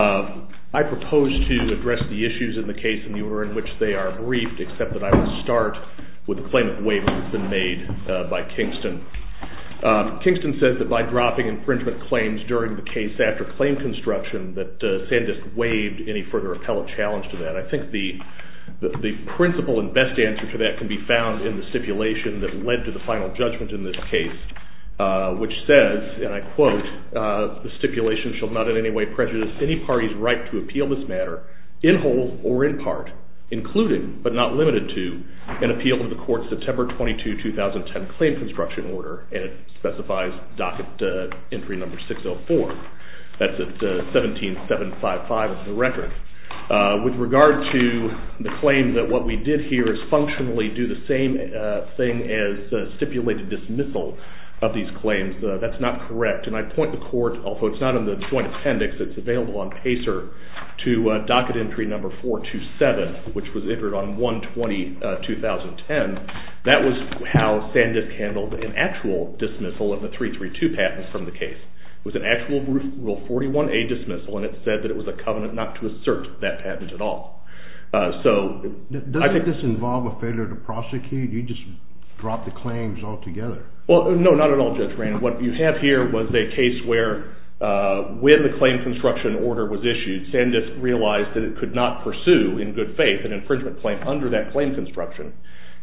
I propose to address the issues in the case in the order in which they are briefed, except that I will start with the claim of waivers that have been made by Kingston. Kingston says that by dropping infringement claims during the case after claim construction that Sandisk waived any further appellate challenge to that. I think the principle and best answer to that can be found in the stipulation that led to the final judgment in this case, which says, and I quote, the stipulation shall not in any way prejudice any party's right to appeal this matter in whole or in part, including, but not limited to, an appeal to the court's September 22, 2010 claim construction order, and it specifies docket entry number 604. That's at 17755 of the record. With regard to the claim that what we did here is functionally do the same thing as stipulated dismissal of these claims, that's not correct. And I point the court, although it's not in the Joint Appendix, it's available on PACER, to docket entry number 427, which was entered on 1-20-2010. That was how Sandisk handled an actual dismissal of the 332 patent from the case. It was an actual Rule 41A dismissal, and it said that it was a covenant not to assert that patent at all. Does this involve a failure to prosecute? You just dropped the claims altogether. Well, no, not at all, Judge Rand. What you have here was a case where when the claim construction order was issued, Sandisk realized that it could not pursue, in good faith, an infringement claim under that claim construction,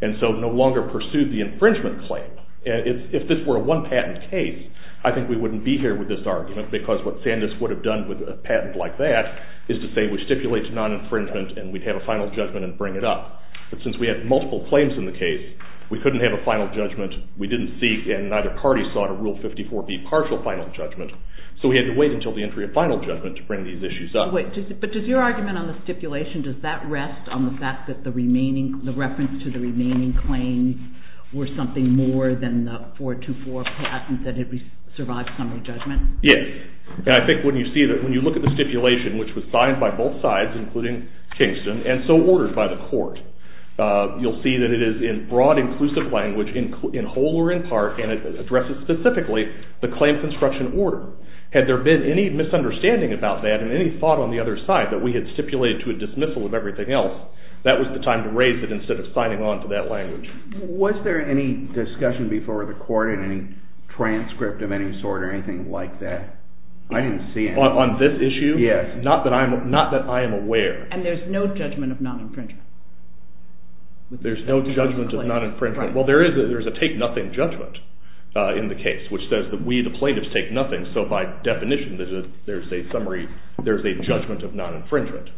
and so no longer pursued the infringement claim. If this were a one-patent case, I think we wouldn't be here with this argument, because what Sandisk would have done with a patent like that is to say we stipulate to non-infringement, and we'd have a final judgment and bring it up. But since we had multiple claims in the case, we couldn't have a final judgment. We didn't seek, and neither party sought a Rule 54B partial final judgment, so we had to wait until the entry of final judgment to bring these issues up. But does your argument on the stipulation, does that rest on the fact that the reference to the remaining claims were something more than the 424 patent that had survived summary judgment? Yes, and I think when you see that, when you look at the stipulation, which was signed by both sides, including Kingston, and so ordered by the court, you'll see that it is in broad, inclusive language, in whole or in part, and it addresses specifically the claims construction order. Had there been any misunderstanding about that and any thought on the other side that we had stipulated to a dismissal of everything else, that was the time to raise it instead of signing on to that language. Was there any discussion before the court in any transcript of any sort or anything like that? I didn't see any. On this issue? Yes. Not that I am aware. And there's no judgment of non-infringement. There's no judgment of non-infringement. Well, there is a take-nothing judgment in the case, which says that we, the plaintiffs, take nothing, and so by definition, there's a summary, there's a judgment of non-infringement.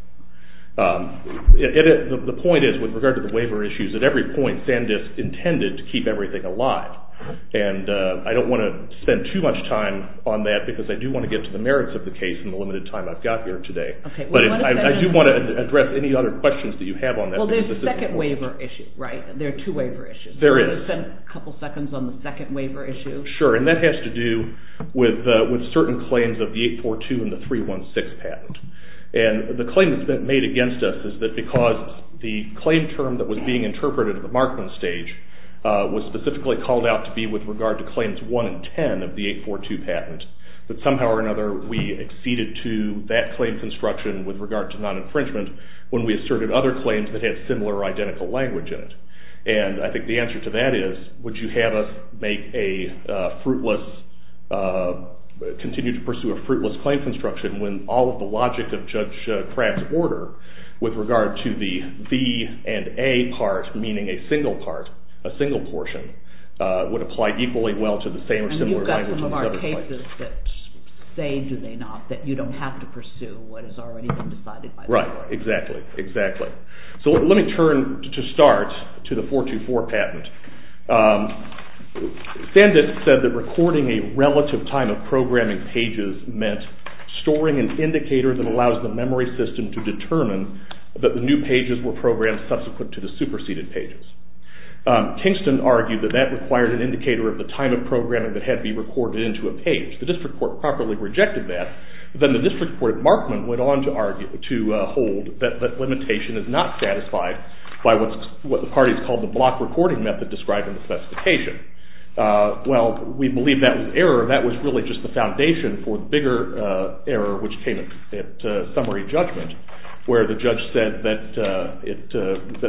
The point is, with regard to the waiver issues, at every point, Sandisk intended to keep everything alive. And I don't want to spend too much time on that because I do want to get to the merits of the case in the limited time I've got here today. But I do want to address any other questions that you have on that. Well, there's a second waiver issue, right? There are two waiver issues. There is. Do you want to spend a couple seconds on the second waiver issue? Sure. And that has to do with certain claims of the 842 and the 316 patent. And the claim that's been made against us is that because the claim term that was being interpreted at the Markman stage was specifically called out to be with regard to Claims 1 and 10 of the 842 patent, that somehow or another we acceded to that claim construction with regard to non-infringement when we asserted other claims that had similar or identical language in it. And I think the answer to that is, would you have us make a fruitless, continue to pursue a fruitless claim construction when all of the logic of Judge Crabb's order with regard to the V and A part, meaning a single part, a single portion, would apply equally well to the same or similar language in the other part. And you've got some of our cases that say, do they not, that you don't have to pursue what has already been decided by the court. Right. Exactly. Exactly. So let me turn, to start, to the 424 patent. Sandus said that recording a relative time of programming pages meant storing an indicator that allows the memory system to determine that the new pages were programmed subsequent to the superseded pages. Tingston argued that that required an indicator of the time of programming that had to be recorded into a page. The district court properly rejected that. Then the district court at Markman went on to argue, to hold, that limitation is not satisfied by what the parties called the block recording method described in the specification. Well, we believe that was error. That was really just the foundation for the bigger error which came at summary judgment where the judge said that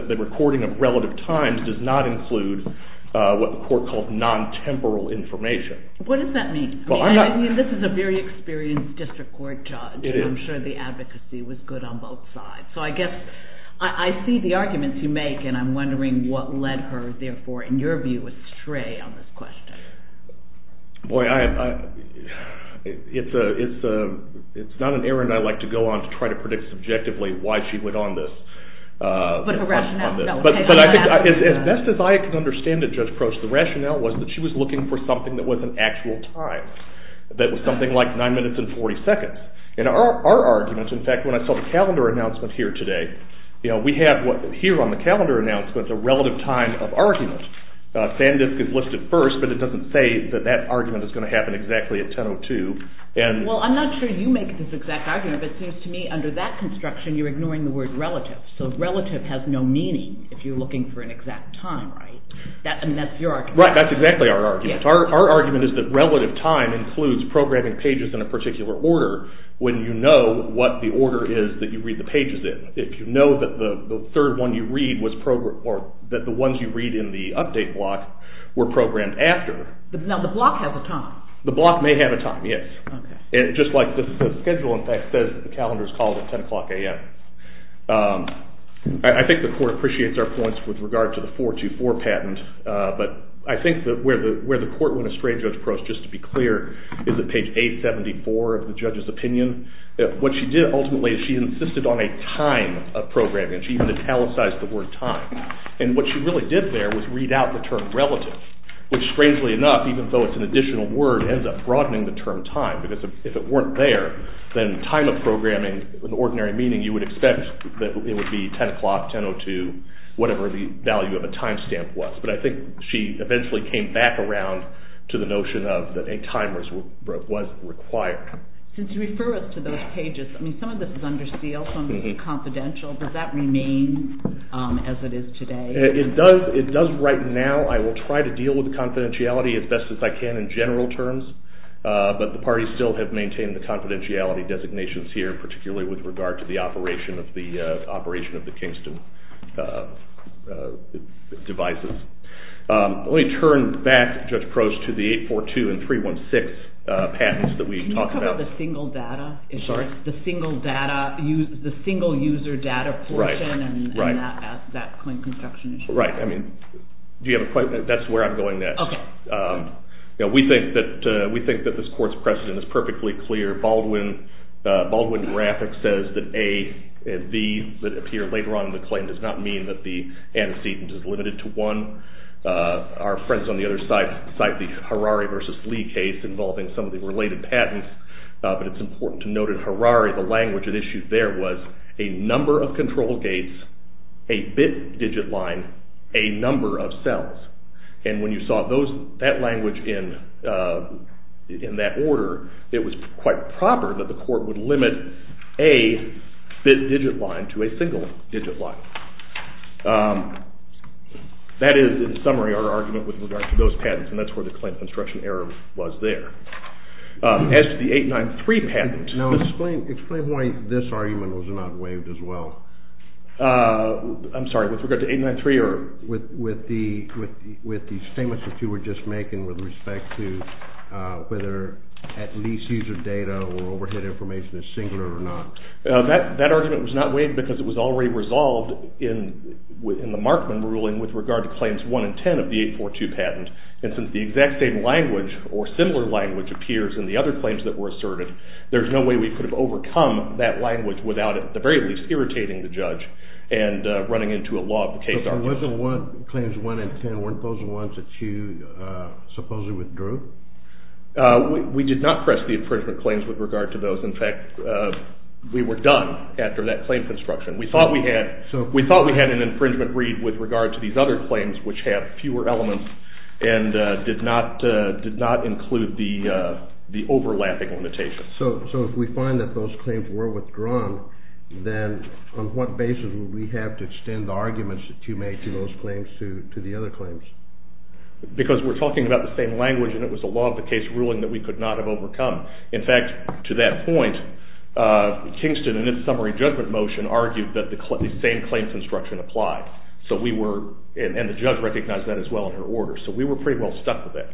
the recording of relative times does not include what the court called non-temporal information. What does that mean? I mean, this is a very experienced district court judge. It is. I'm sure the advocacy was good on both sides. So I guess I see the arguments you make, and I'm wondering what led her, therefore, in your view, astray on this question. Boy, it's not an errand I like to go on to try to predict subjectively why she went on this. But her rationale? As best as I can understand it, Judge Proch, the rationale was that she was looking for something that was an actual time, that was something like 9 minutes and 40 seconds. And our argument, in fact, when I saw the calendar announcement here today, we have here on the calendar announcement a relative time of argument. Sandisk is listed first, but it doesn't say that that argument is going to happen exactly at 10.02. Well, I'm not sure you make this exact argument, but it seems to me under that construction you're ignoring the word relative. So relative has no meaning if you're looking for an exact time, right? I mean, that's your argument. Right, that's exactly our argument. Our argument is that relative time includes programming pages in a particular order when you know what the order is that you read the pages in. If you know that the third one you read was programmed, or that the ones you read in the update block were programmed after. Now the block has a time. The block may have a time, yes. Just like the schedule, in fact, says that the calendar is called at 10 o'clock a.m. I think the court appreciates our points with regard to the 424 patent, but I think where the court went a strange approach, just to be clear, is at page 874 of the judge's opinion. What she did ultimately is she insisted on a time of programming, and she even italicized the word time. And what she really did there was read out the term relative, which strangely enough, even though it's an additional word, ends up broadening the term time, because if it weren't there, then time of programming, in ordinary meaning, you would expect that it would be 10 o'clock, 10.02, whatever the value of a time stamp was. But I think she eventually came back around to the notion of that a time was required. Since you refer us to those pages, I mean, some of this is under seal, some of this is confidential, does that remain as it is today? It does right now. I will try to deal with the confidentiality as best as I can in general terms, but the parties still have maintained the confidentiality designations here, particularly with regard to the operation of the Kingston devices. Let me turn back, Judge Probst, to the 842 and 316 patents that we talked about. Can you talk about the single data? I'm sorry? The single user data portion and that claim construction issue? Right. That's where I'm going next. We think that this court's precedent is perfectly clear. Baldwin Graphic says that A and B that appear later on in the claim does not mean that the antecedent is limited to one. Our friends on the other side cite the Harari v. Lee case involving some of the related patents, but it's important to note in Harari the language it issued there was a number of control gates, a bit digit line, a number of cells. When you saw that language in that order, it was quite proper that the court would limit a bit digit line to a single digit line. That is, in summary, our argument with regard to those patents, and that's where the claim construction error was there. As to the 893 patent... Now explain why this argument was not waived as well. I'm sorry? With regard to 893 or with the statements that you were just making with respect to whether at least user data or overhead information is singular or not. That argument was not waived because it was already resolved in the Markman ruling with regard to claims 1 and 10 of the 842 patent, and since the exact same language or similar language appears in the other claims that were asserted, there's no way we could have overcome that language without at the very least irritating the judge and running into a law of the case argument. But wasn't claims 1 and 10, weren't those the ones that you supposedly withdrew? We did not press the infringement claims with regard to those. In fact, we were done after that claim construction. We thought we had an infringement read with regard to these other claims which had fewer elements and did not include the overlapping limitations. So if we find that those claims were withdrawn, then on what basis would we have to extend the arguments that you made to those claims to the other claims? Because we're talking about the same language and it was a law of the case ruling that we could not have overcome. In fact, to that point, Kingston in its summary judgment motion argued that the same claims construction applied, and the judge recognized that as well in her order. So we were pretty well stuck with that.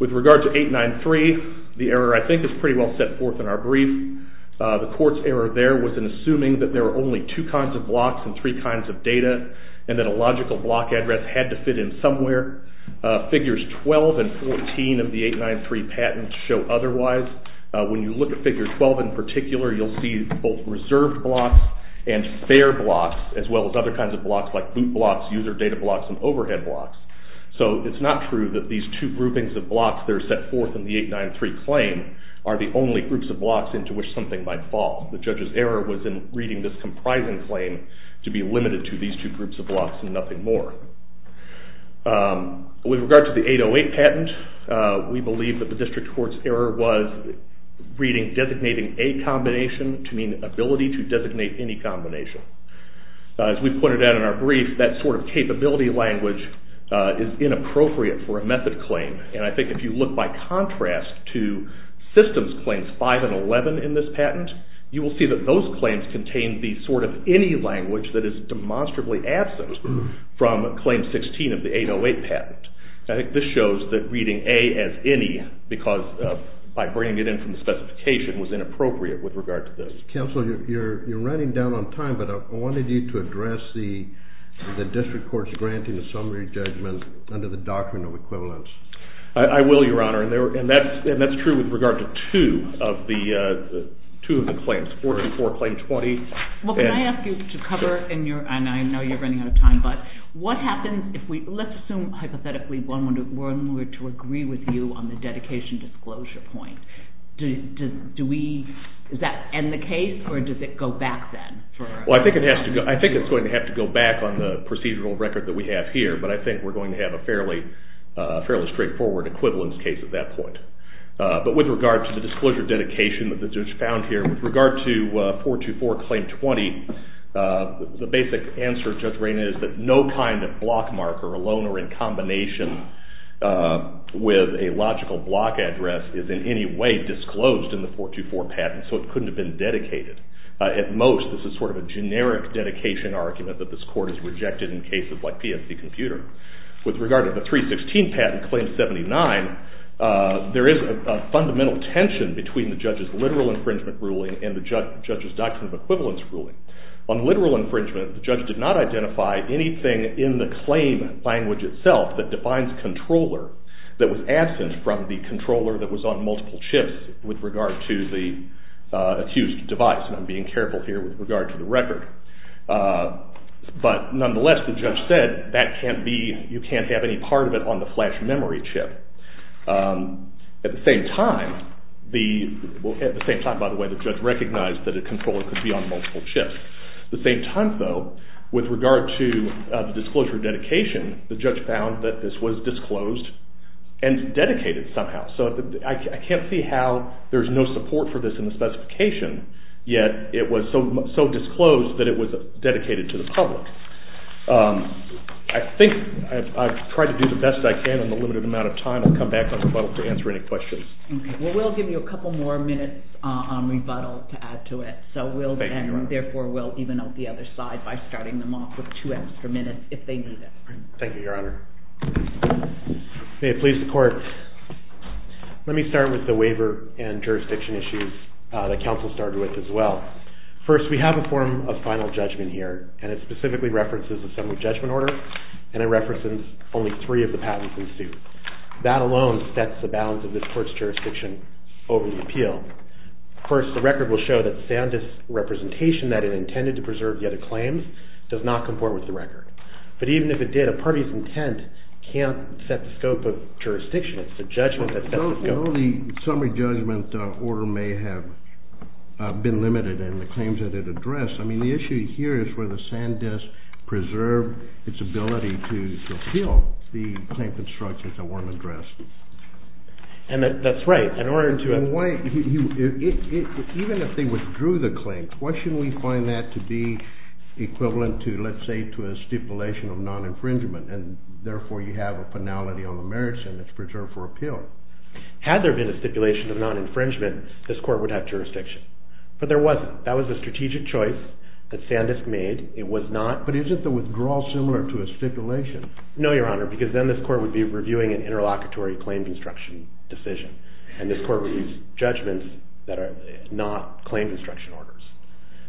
With regard to 893, the error I think is pretty well set forth in our brief. The court's error there was in assuming that there were only two kinds of blocks and three kinds of data and that a logical block address had to fit in somewhere. Figures 12 and 14 of the 893 patent show otherwise. When you look at figure 12 in particular, you'll see both reserved blocks and fair blocks as well as other kinds of blocks like boot blocks, user data blocks, and overhead blocks. So it's not true that these two groupings of blocks that are set forth in the 893 claim are the only groups of blocks into which something might fall. The judge's error was in reading this comprising claim to be limited to these two groups of blocks and nothing more. With regard to the 808 patent, we believe that the district court's error was reading designating a combination to mean ability to designate any combination. As we pointed out in our brief, that sort of capability language is inappropriate for a method claim. And I think if you look by contrast to systems claims 5 and 11 in this patent, you will see that those claims contain the sort of any language that is demonstrably absent from claim 16 of the 808 patent. I think this shows that reading A as any by bringing it in from the specification was inappropriate with regard to this. Counsel, you're running down on time, but I wanted you to address the district court's granting the summary judgment under the doctrine of equivalence. I will, Your Honor. And that's true with regard to two of the claims, 44, claim 20. Well, can I ask you to cover, and I know you're running out of time, but what happens if we, let's assume hypothetically one were to agree with you on the dedication disclosure point. Does that end the case or does it go back then? I think it's going to have to go back on the procedural record that we have here, but I think we're going to have a fairly straightforward equivalence case at that point. But with regard to the disclosure dedication that the judge found here, with regard to 424, claim 20, the basic answer, Judge Rainer, is that no kind of block marker alone or in combination with a logical block address is in any way disclosed in the 424 patent, so it couldn't have been dedicated. At most, this is sort of a generic dedication argument that this court has rejected in cases like PFC Computer. With regard to the 316 patent, claim 79, there is a fundamental tension between the judge's literal infringement ruling and the judge's doctrine of equivalence ruling. On literal infringement, the judge did not identify anything in the claim language itself that defines controller that was absent from the controller that was on multiple chips with regard to the accused device, and I'm being careful here with regard to the record. But nonetheless, the judge said that you can't have any part of it on the flash memory chip. At the same time, by the way, the judge recognized that a controller could be on multiple chips. At the same time, though, with regard to the disclosure dedication, the judge found that this was disclosed and dedicated somehow. So I can't see how there's no support for this in the specification, yet it was so disclosed that it was dedicated to the public. I think I've tried to do the best I can in the limited amount of time. I'll come back on rebuttal to answer any questions. Okay. Well, we'll give you a couple more minutes on rebuttal to add to it, and therefore we'll even out the other side by starting them off with two extra minutes if they need it. Thank you, Your Honor. May it please the Court. Let me start with the waiver and jurisdiction issues that counsel started with as well. First, we have a form of final judgment here, and it specifically references assembly judgment order, and it references only three of the patents in suit. That alone sets the balance of this court's jurisdiction over the appeal. Of course, the record will show that Sandus' representation that it intended to preserve the other claims does not comport with the record. But even if it did, a party's intent can't set the scope of jurisdiction. It's the judgment that sets the scope. Although the summary judgment order may have been limited in the claims that it addressed, I mean, the issue here is whether Sandus preserved its ability to appeal the claim construction that weren't addressed. And that's right. Even if they withdrew the claim, why shouldn't we find that to be equivalent to, let's say, to a stipulation of non-infringement, and therefore you have a penality on the merits and it's preserved for appeal? Had there been a stipulation of non-infringement, this court would have jurisdiction. But there wasn't. That was a strategic choice that Sandus made. But isn't the withdrawal similar to a stipulation? No, Your Honor, because then this court would be reviewing an interlocutory claim construction decision, and this court would use judgments that are not claim construction orders.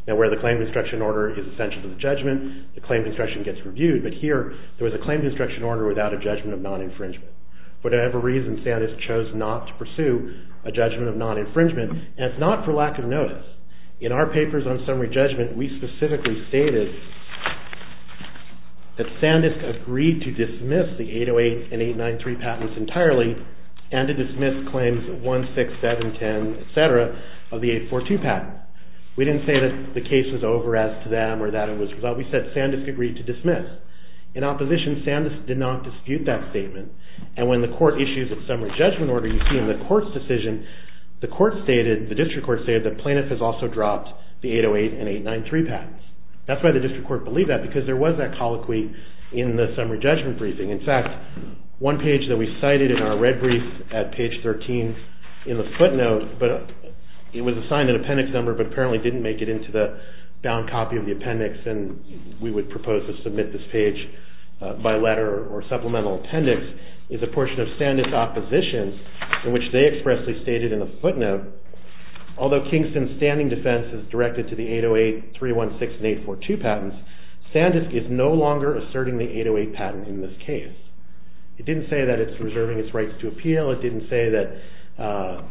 Now, where the claim construction order is essential to the judgment, the claim construction gets reviewed, but here there was a claim construction order without a judgment of non-infringement. For whatever reason, Sandus chose not to pursue a judgment of non-infringement, and it's not for lack of notice. In our papers on summary judgment, we specifically stated that Sandus agreed to dismiss the 808 and 893 patents entirely and to dismiss claims 16710, et cetera, of the 842 patent. We didn't say that the case was over as to them or that it was resolved. We said Sandus agreed to dismiss. In opposition, Sandus did not dispute that statement, and when the court issues a summary judgment order, you see in the court's decision, the court stated, the district court stated, that Plaintiff has also dropped the 808 and 893 patents. That's why the district court believed that, because there was that colloquy in the summary judgment briefing. In fact, one page that we cited in our red brief at page 13 in the footnote, but it was assigned an appendix number but apparently didn't make it into the bound copy of the appendix, and we would propose to submit this page by letter or supplemental appendix, is a portion of Sandus' opposition in which they expressly stated in the footnote, although Kingston's standing defense is directed to the 808, 316, and 842 patents, Sandus is no longer asserting the 808 patent in this case. It didn't say that it's reserving its rights to appeal. It didn't say that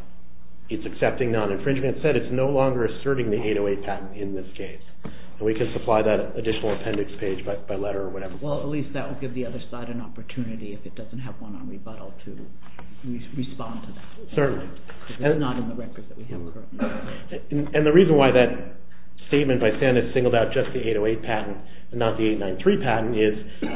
it's accepting non-infringement. It said it's no longer asserting the 808 patent in this case, and we can supply that additional appendix page by letter or whatever. Well, at least that would give the other side an opportunity, if it doesn't have one on rebuttal, to respond to that. Certainly. Because it's not in the records that we have. And the reason why that statement by Sandus singled out just the 808 patent and not the 893 patent is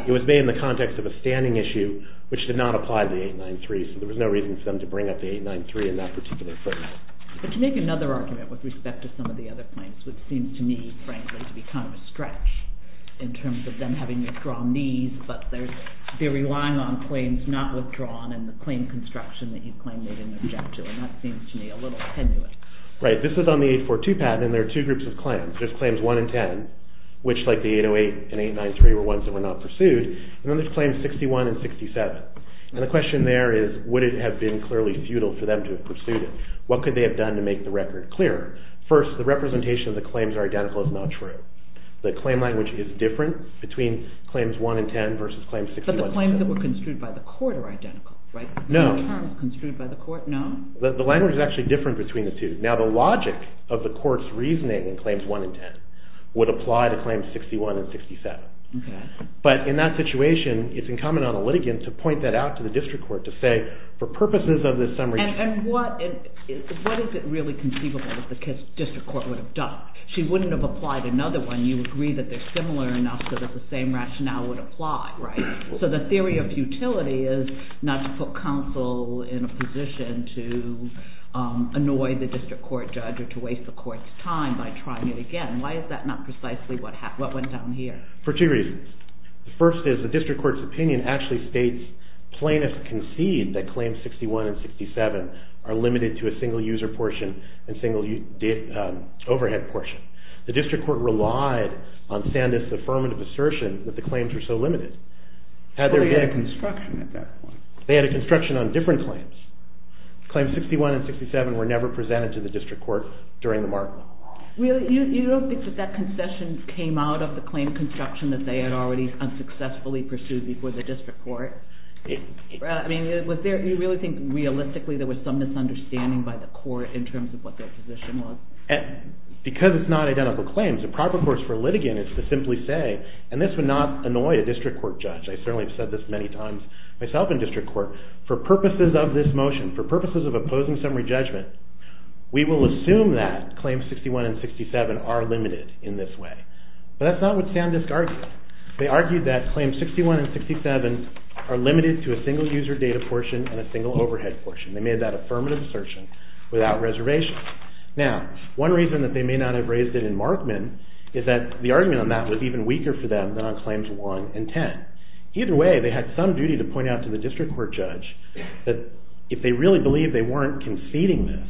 it was made in the context of a standing issue which did not apply to the 893, so there was no reason for them to bring up the 893 in that particular footnote. But you make another argument with respect to some of the other claims, which seems to me, frankly, to be kind of a stretch in terms of them having withdrawn these, but they're relying on claims not withdrawn and the claim construction that you claim they didn't object to, and that seems to me a little tenuous. Right. This is on the 842 patent, and there are two groups of claims. There's claims 1 and 10, which like the 808 and 893 were ones that were not pursued, and then there's claims 61 and 67. And the question there is would it have been clearly futile for them to have pursued it? What could they have done to make the record clearer? First, the representation of the claims are identical is not true. The claim language is different between claims 1 and 10 versus claims 61 and 67. But the claims that were construed by the court are identical, right? No. No terms construed by the court, no? The language is actually different between the two. Now, the logic of the court's reasoning in claims 1 and 10 would apply to claims 61 and 67. Okay. But in that situation, it's incumbent on the litigant to point that out to the district court to say, for purposes of this summary… And what is it really conceivable that the district court would have done? She wouldn't have applied another one. You agree that they're similar enough so that the same rationale would apply, right? So the theory of futility is not to put counsel in a position to annoy the district court judge or to waste the court's time by trying it again. Why is that not precisely what went down here? For two reasons. The first is the district court's opinion actually states plaintiffs concede that claims 61 and 67 are limited to a single user portion and single overhead portion. The district court relied on Sandus' affirmative assertion that the claims were so limited. They had a construction at that point. They had a construction on different claims. Claims 61 and 67 were never presented to the district court during the markup. You don't think that that concession came out of the claim construction that they had already unsuccessfully pursued before the district court? You really think realistically there was some misunderstanding by the court in terms of what their position was? Because it's not identical claims, the proper course for a litigant is to simply say, and this would not annoy a district court judge. I certainly have said this many times myself in district court. For purposes of this motion, for purposes of opposing summary judgment, we will assume that claims 61 and 67 are limited in this way. But that's not what Sandus argued. They argued that claims 61 and 67 are limited to a single user data portion and a single overhead portion. They made that affirmative assertion without reservation. Now, one reason that they may not have raised it in Markman is that the argument on that was even weaker for them than on claims 1 and 10. Either way, they had some duty to point out to the district court judge that if they really believed they weren't conceding this,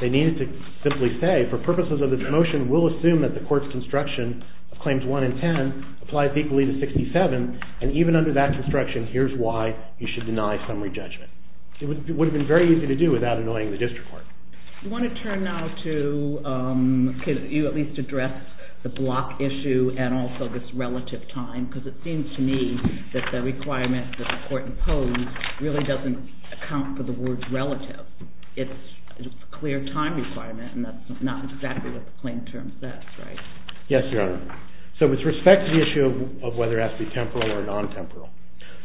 they needed to simply say, for purposes of this motion, we'll assume that the court's construction of claims 1 and 10 applies equally to 67, and even under that construction, here's why you should deny summary judgment. It would have been very easy to do without annoying the district court. You want to turn now to, can you at least address the block issue and also this relative time? Because it seems to me that the requirement that the court imposed really doesn't account for the word relative. It's a clear time requirement, and that's not exactly what the claim term says, right? Yes, Your Honor. So with respect to the issue of whether it has to be temporal or non-temporal,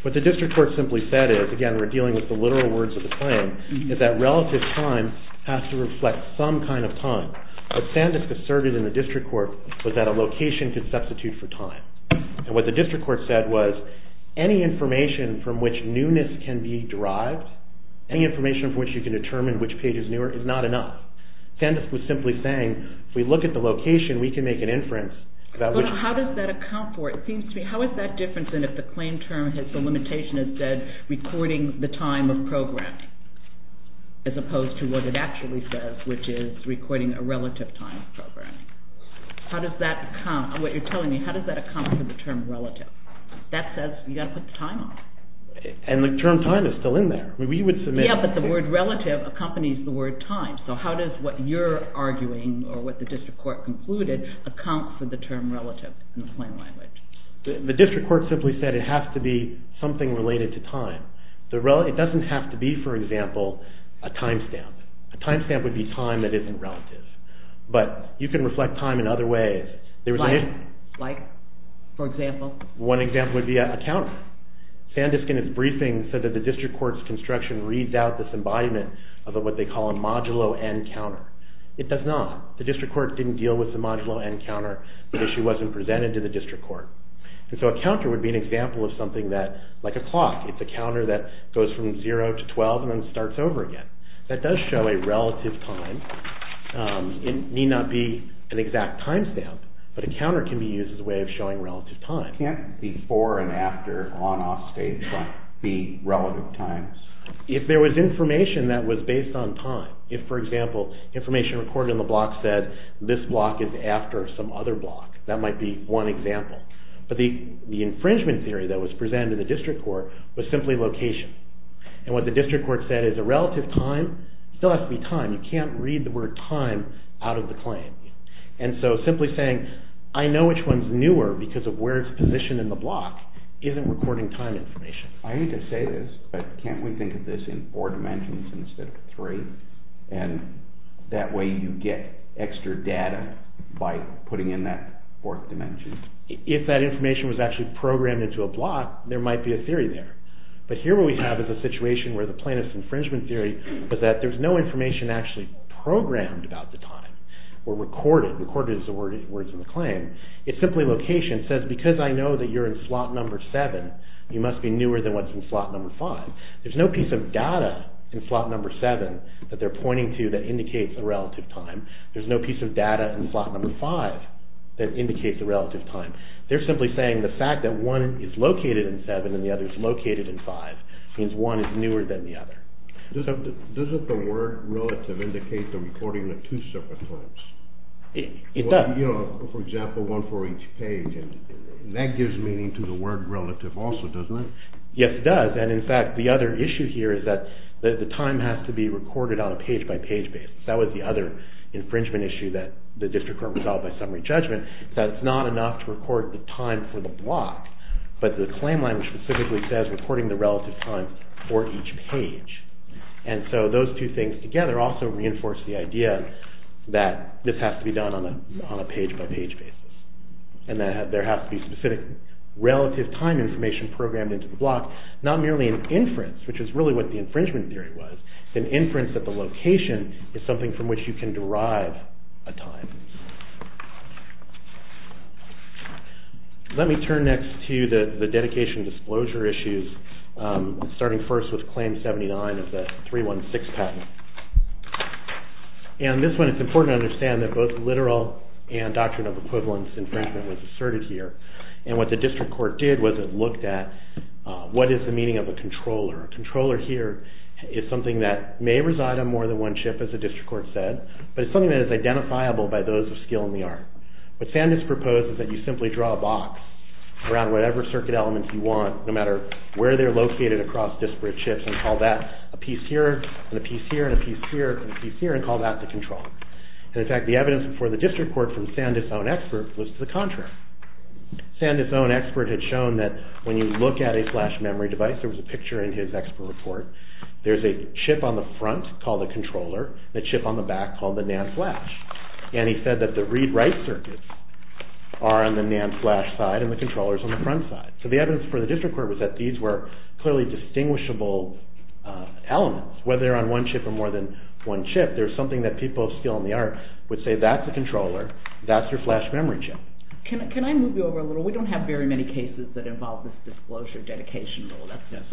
what the district court simply said is, and again we're dealing with the literal words of the claim, is that relative time has to reflect some kind of time. What Sandusk asserted in the district court was that a location could substitute for time. And what the district court said was, any information from which newness can be derived, any information from which you can determine which page is newer, is not enough. Sandusk was simply saying, if we look at the location, we can make an inference. How does that account for it? It seems to me, how is that different than if the claim term, the limitation is that recording the time of programming as opposed to what it actually says, which is recording a relative time of programming? How does that account, what you're telling me, how does that account for the term relative? That says you've got to put the time on it. And the term time is still in there. We would submit... Yeah, but the word relative accompanies the word time. So how does what you're arguing or what the district court concluded account for the term relative in the plain language? The district court simply said it has to be something related to time. It doesn't have to be, for example, a timestamp. A timestamp would be time that isn't relative. But you can reflect time in other ways. Like, for example? One example would be a counter. Sandusk in its briefing said that the district court's construction reads out this embodiment of what they call a modulo end counter. It does not. The district court didn't deal with the modulo end counter. The issue wasn't presented to the district court. And so a counter would be an example of something that, like a clock, it's a counter that goes from 0 to 12 and then starts over again. That does show a relative time. It need not be an exact timestamp, but a counter can be used as a way of showing relative time. Can't before and after on-off stage be relative times? If there was information that was based on time, if, for example, information recorded in the block said, this block is after some other block, that might be one example. But the infringement theory that was presented to the district court was simply location. And what the district court said is a relative time still has to be time. You can't read the word time out of the claim. And so simply saying, I know which one's newer because of where it's positioned in the block isn't recording time information. I hate to say this, but can't we think of this in four dimensions instead of three? And that way you get extra data by putting in that fourth dimension. If that information was actually programmed into a block, there might be a theory there. But here what we have is a situation where the plaintiff's infringement theory was that there's no information actually programmed about the time or recorded as the words in the claim. It's simply location. It says, because I know that you're in slot number seven, you must be newer than what's in slot number five. There's no piece of data in slot number seven that they're pointing to that indicates a relative time. There's no piece of data in slot number five that indicates a relative time. They're simply saying the fact that one is located in seven and the other is located in five means one is newer than the other. Doesn't the word relative indicate the recording of two separate claims? It does. For example, one for each page. And that gives meaning to the word relative also, doesn't it? Yes, it does. And, in fact, the other issue here is that the time has to be recorded on a page-by-page basis. That was the other infringement issue that the district court resolved by summary judgment, that it's not enough to record the time for the block, but the claim language specifically says recording the relative time for each page. And so those two things together also reinforce the idea that this has to be done on a page-by-page basis. And that there has to be specific relative time information programmed into the block, not merely an inference, which is really what the infringement theory was. It's an inference that the location is something from which you can derive a time. Let me turn next to the dedication disclosure issues, starting first with Claim 79 of the 316 patent. And this one, it's important to understand that both literal and doctrine of equivalence infringement was asserted here. And what the district court did was it looked at what is the meaning of a controller. A controller here is something that may reside on more than one chip, as the district court said, but it's something that is identifiable by those of skill in the art. What Sandus proposes is that you simply draw a box around whatever circuit elements you want, no matter where they're located across disparate chips, and call that a piece here, and a piece here, and a piece here, and a piece here, and call that the controller. And in fact, the evidence for the district court from Sandus' own expert was to the contrary. Sandus' own expert had shown that when you look at a flash memory device, there was a picture in his expert report, there's a chip on the front called the controller, a chip on the back called the NAND flash. And he said that the read-write circuits are on the NAND flash side, and the controller's on the front side. So the evidence for the district court was that these were clearly distinguishable elements. Whether they're on one chip or more than one chip, there's something that people of skill in the art would say that's a controller, that's your flash memory chip. Can I move you over a little? We don't have very many cases that involve this disclosure dedication rule. That's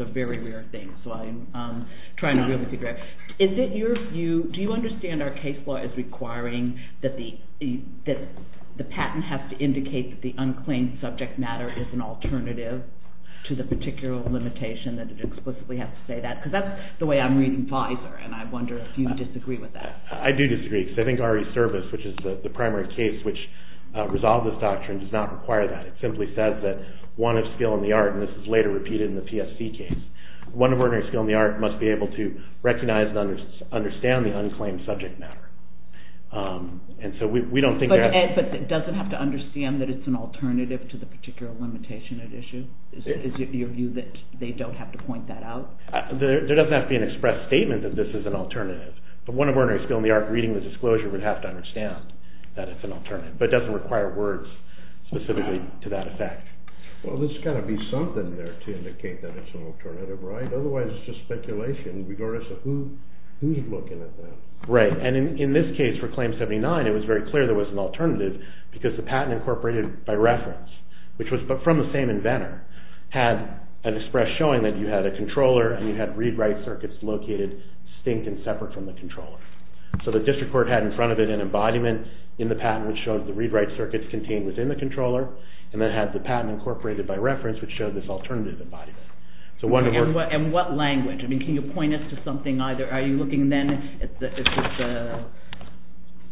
a very rare thing, so I'm trying to really figure out. Is it your view, do you understand our case law is requiring that the patent has to indicate that the unclaimed subject matter is an alternative to the particular limitation that it explicitly has to say that? Because that's the way I'm reading FISER, and I wonder if you disagree with that. I do disagree, because I think RE Service, which is the primary case which resolved this doctrine, does not require that. It simply says that one of skill in the art, and this is later repeated in the PSC case, one of ordinary skill in the art must be able to recognize and understand the unclaimed subject matter. And so we don't think that... But it doesn't have to understand that it's an alternative to the particular limitation at issue? Is it your view that they don't have to point that out? There doesn't have to be an express statement that this is an alternative. But one of ordinary skill in the art reading the disclosure would have to understand that it's an alternative. But it doesn't require words specifically to that effect. Well, there's got to be something there to indicate that it's an alternative, right? Otherwise it's just speculation, regardless of who's looking at that. Right, and in this case for Claim 79, it was very clear there was an alternative because the patent incorporated by reference, which was from the same inventor, had an express showing that you had a controller and you had read-write circuits located distinct and separate from the controller. So the district court had in front of it an embodiment in the patent which showed the read-write circuits contained within the controller and then had the patent incorporated by reference which showed this alternative embodiment. And what language? I mean, can you point us to something either? Are you looking then at the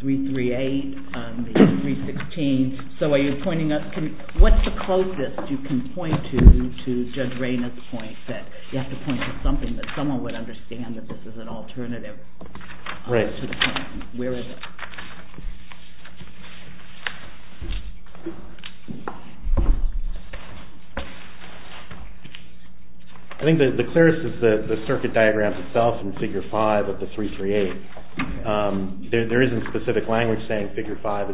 338 and the 316? What's the closest you can point to Judge Raynard's point that you have to point to something that someone would understand that this is an alternative? Right. Where is it? I think the clearest is the circuit diagram itself in Figure 5 of the 338. There isn't specific language saying that Figure 5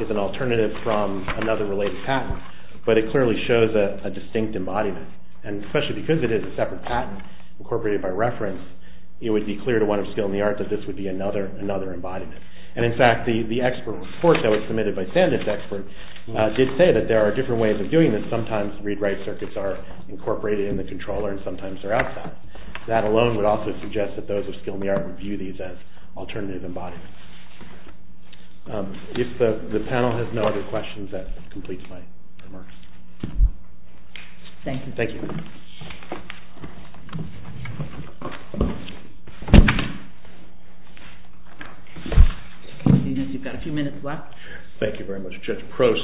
is an alternative from another related patent, but it clearly shows a distinct embodiment. And especially because it is a separate patent incorporated by reference, it would be clear to one of Skill in the Art that this would be another embodiment. And in fact, the expert report that was submitted by Sandisk Expert did say that there are different ways of doing this. Sometimes read-write circuits are incorporated in the controller and sometimes they're outside. That alone would also suggest that those of Skill in the Art would view these as alternative embodiments. If the panel has no other questions, that completes my remarks. Thank you. Thank you. You've got a few minutes left. Thank you very much, Judge Prost.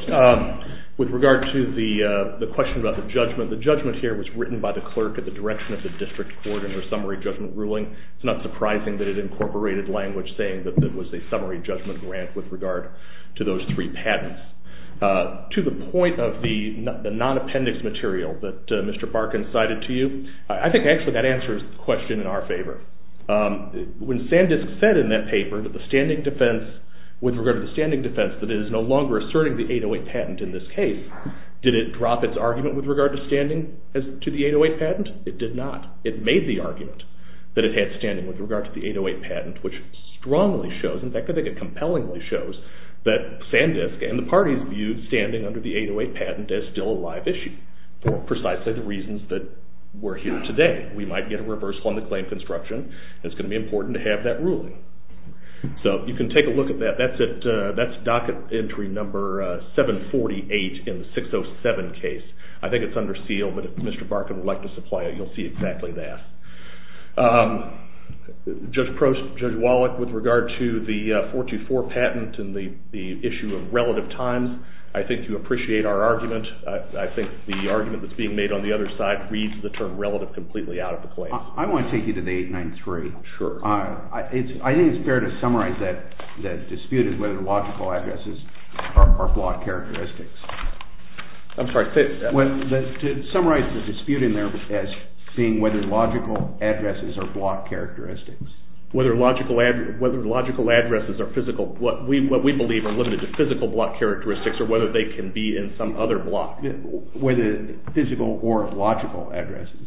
With regard to the question about the judgment, the judgment here was written by the clerk at the direction of the district court in her summary judgment ruling. It's not surprising that it incorporated language saying that there was a summary judgment grant with regard to those three patents. To the point of the non-appendix material that Mr. Barkin cited to you, I think actually that answers the question in our favor. When Sandisk said in that paper that the standing defense, with regard to the standing defense, that it is no longer asserting the 808 patent in this case, did it drop its argument with regard to standing to the 808 patent? It did not. It made the argument that it had standing with regard to the 808 patent, which strongly shows, in fact I think it compellingly shows, that Sandisk and the parties viewed standing under the 808 patent as still a live issue for precisely the reasons that we're here today. We might get a reversal on the claim construction, and it's going to be important to have that ruling. So you can take a look at that. That's docket entry number 748 in the 607 case. I think it's under seal, but if Mr. Barkin would like to supply it, he'll see exactly that. Judge Wallach, with regard to the 424 patent and the issue of relative times, I think you appreciate our argument. I think the argument that's being made on the other side reads the term relative completely out of the claim. I want to take you to the 893. Sure. I think it's fair to summarize that dispute as whether the logical addresses are flawed characteristics. I'm sorry, say that again. To summarize the dispute in there as seeing whether logical addresses are flawed characteristics. Whether logical addresses are physical, what we believe are limited to physical flawed characteristics or whether they can be in some other block. Whether physical or logical addresses.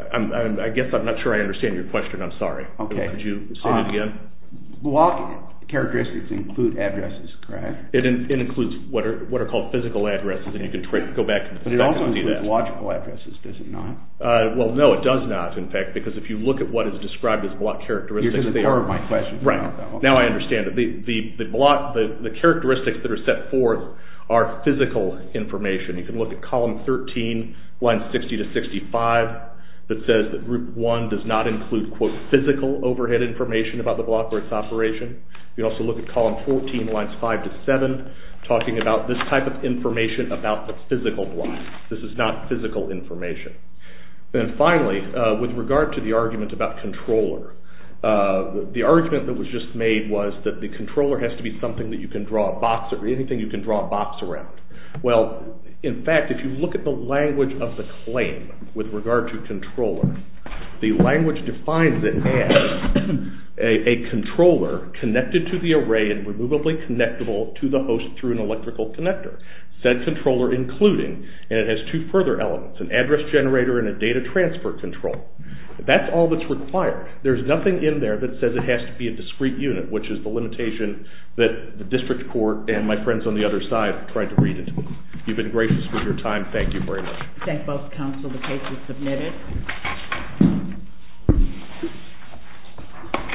I guess I'm not sure I understand your question. I'm sorry. Could you say that again? Flawed characteristics include addresses, correct? It includes what are called physical addresses. You can go back and see that. It also includes logical addresses, does it not? No, it does not, in fact. Because if you look at what is described as flawed characteristics, You're just ignoring my question. Right. Now I understand it. The characteristics that are set forth are physical information. You can look at column 13, lines 60 to 65, that says that group 1 does not include quote physical overhead information about the block or its operation. You can also look at column 14, lines 5 to 7, talking about this type of information about the physical block. This is not physical information. And finally, with regard to the argument about controller, the argument that was just made was that the controller has to be something that you can draw a box around. Well, in fact, if you look at the language of the claim with regard to controller, the language defines it as a controller connected to the array and removably connectable to the host through an electrical connector. Said controller including, and it has two further elements, an address generator and a data transfer control. That's all that's required. There's nothing in there that says it has to be a discrete unit, which is the limitation that the district court and my friends on the other side tried to read it. You've been gracious with your time. Thank you very much. Thank both counsel. The case is submitted. Thank you.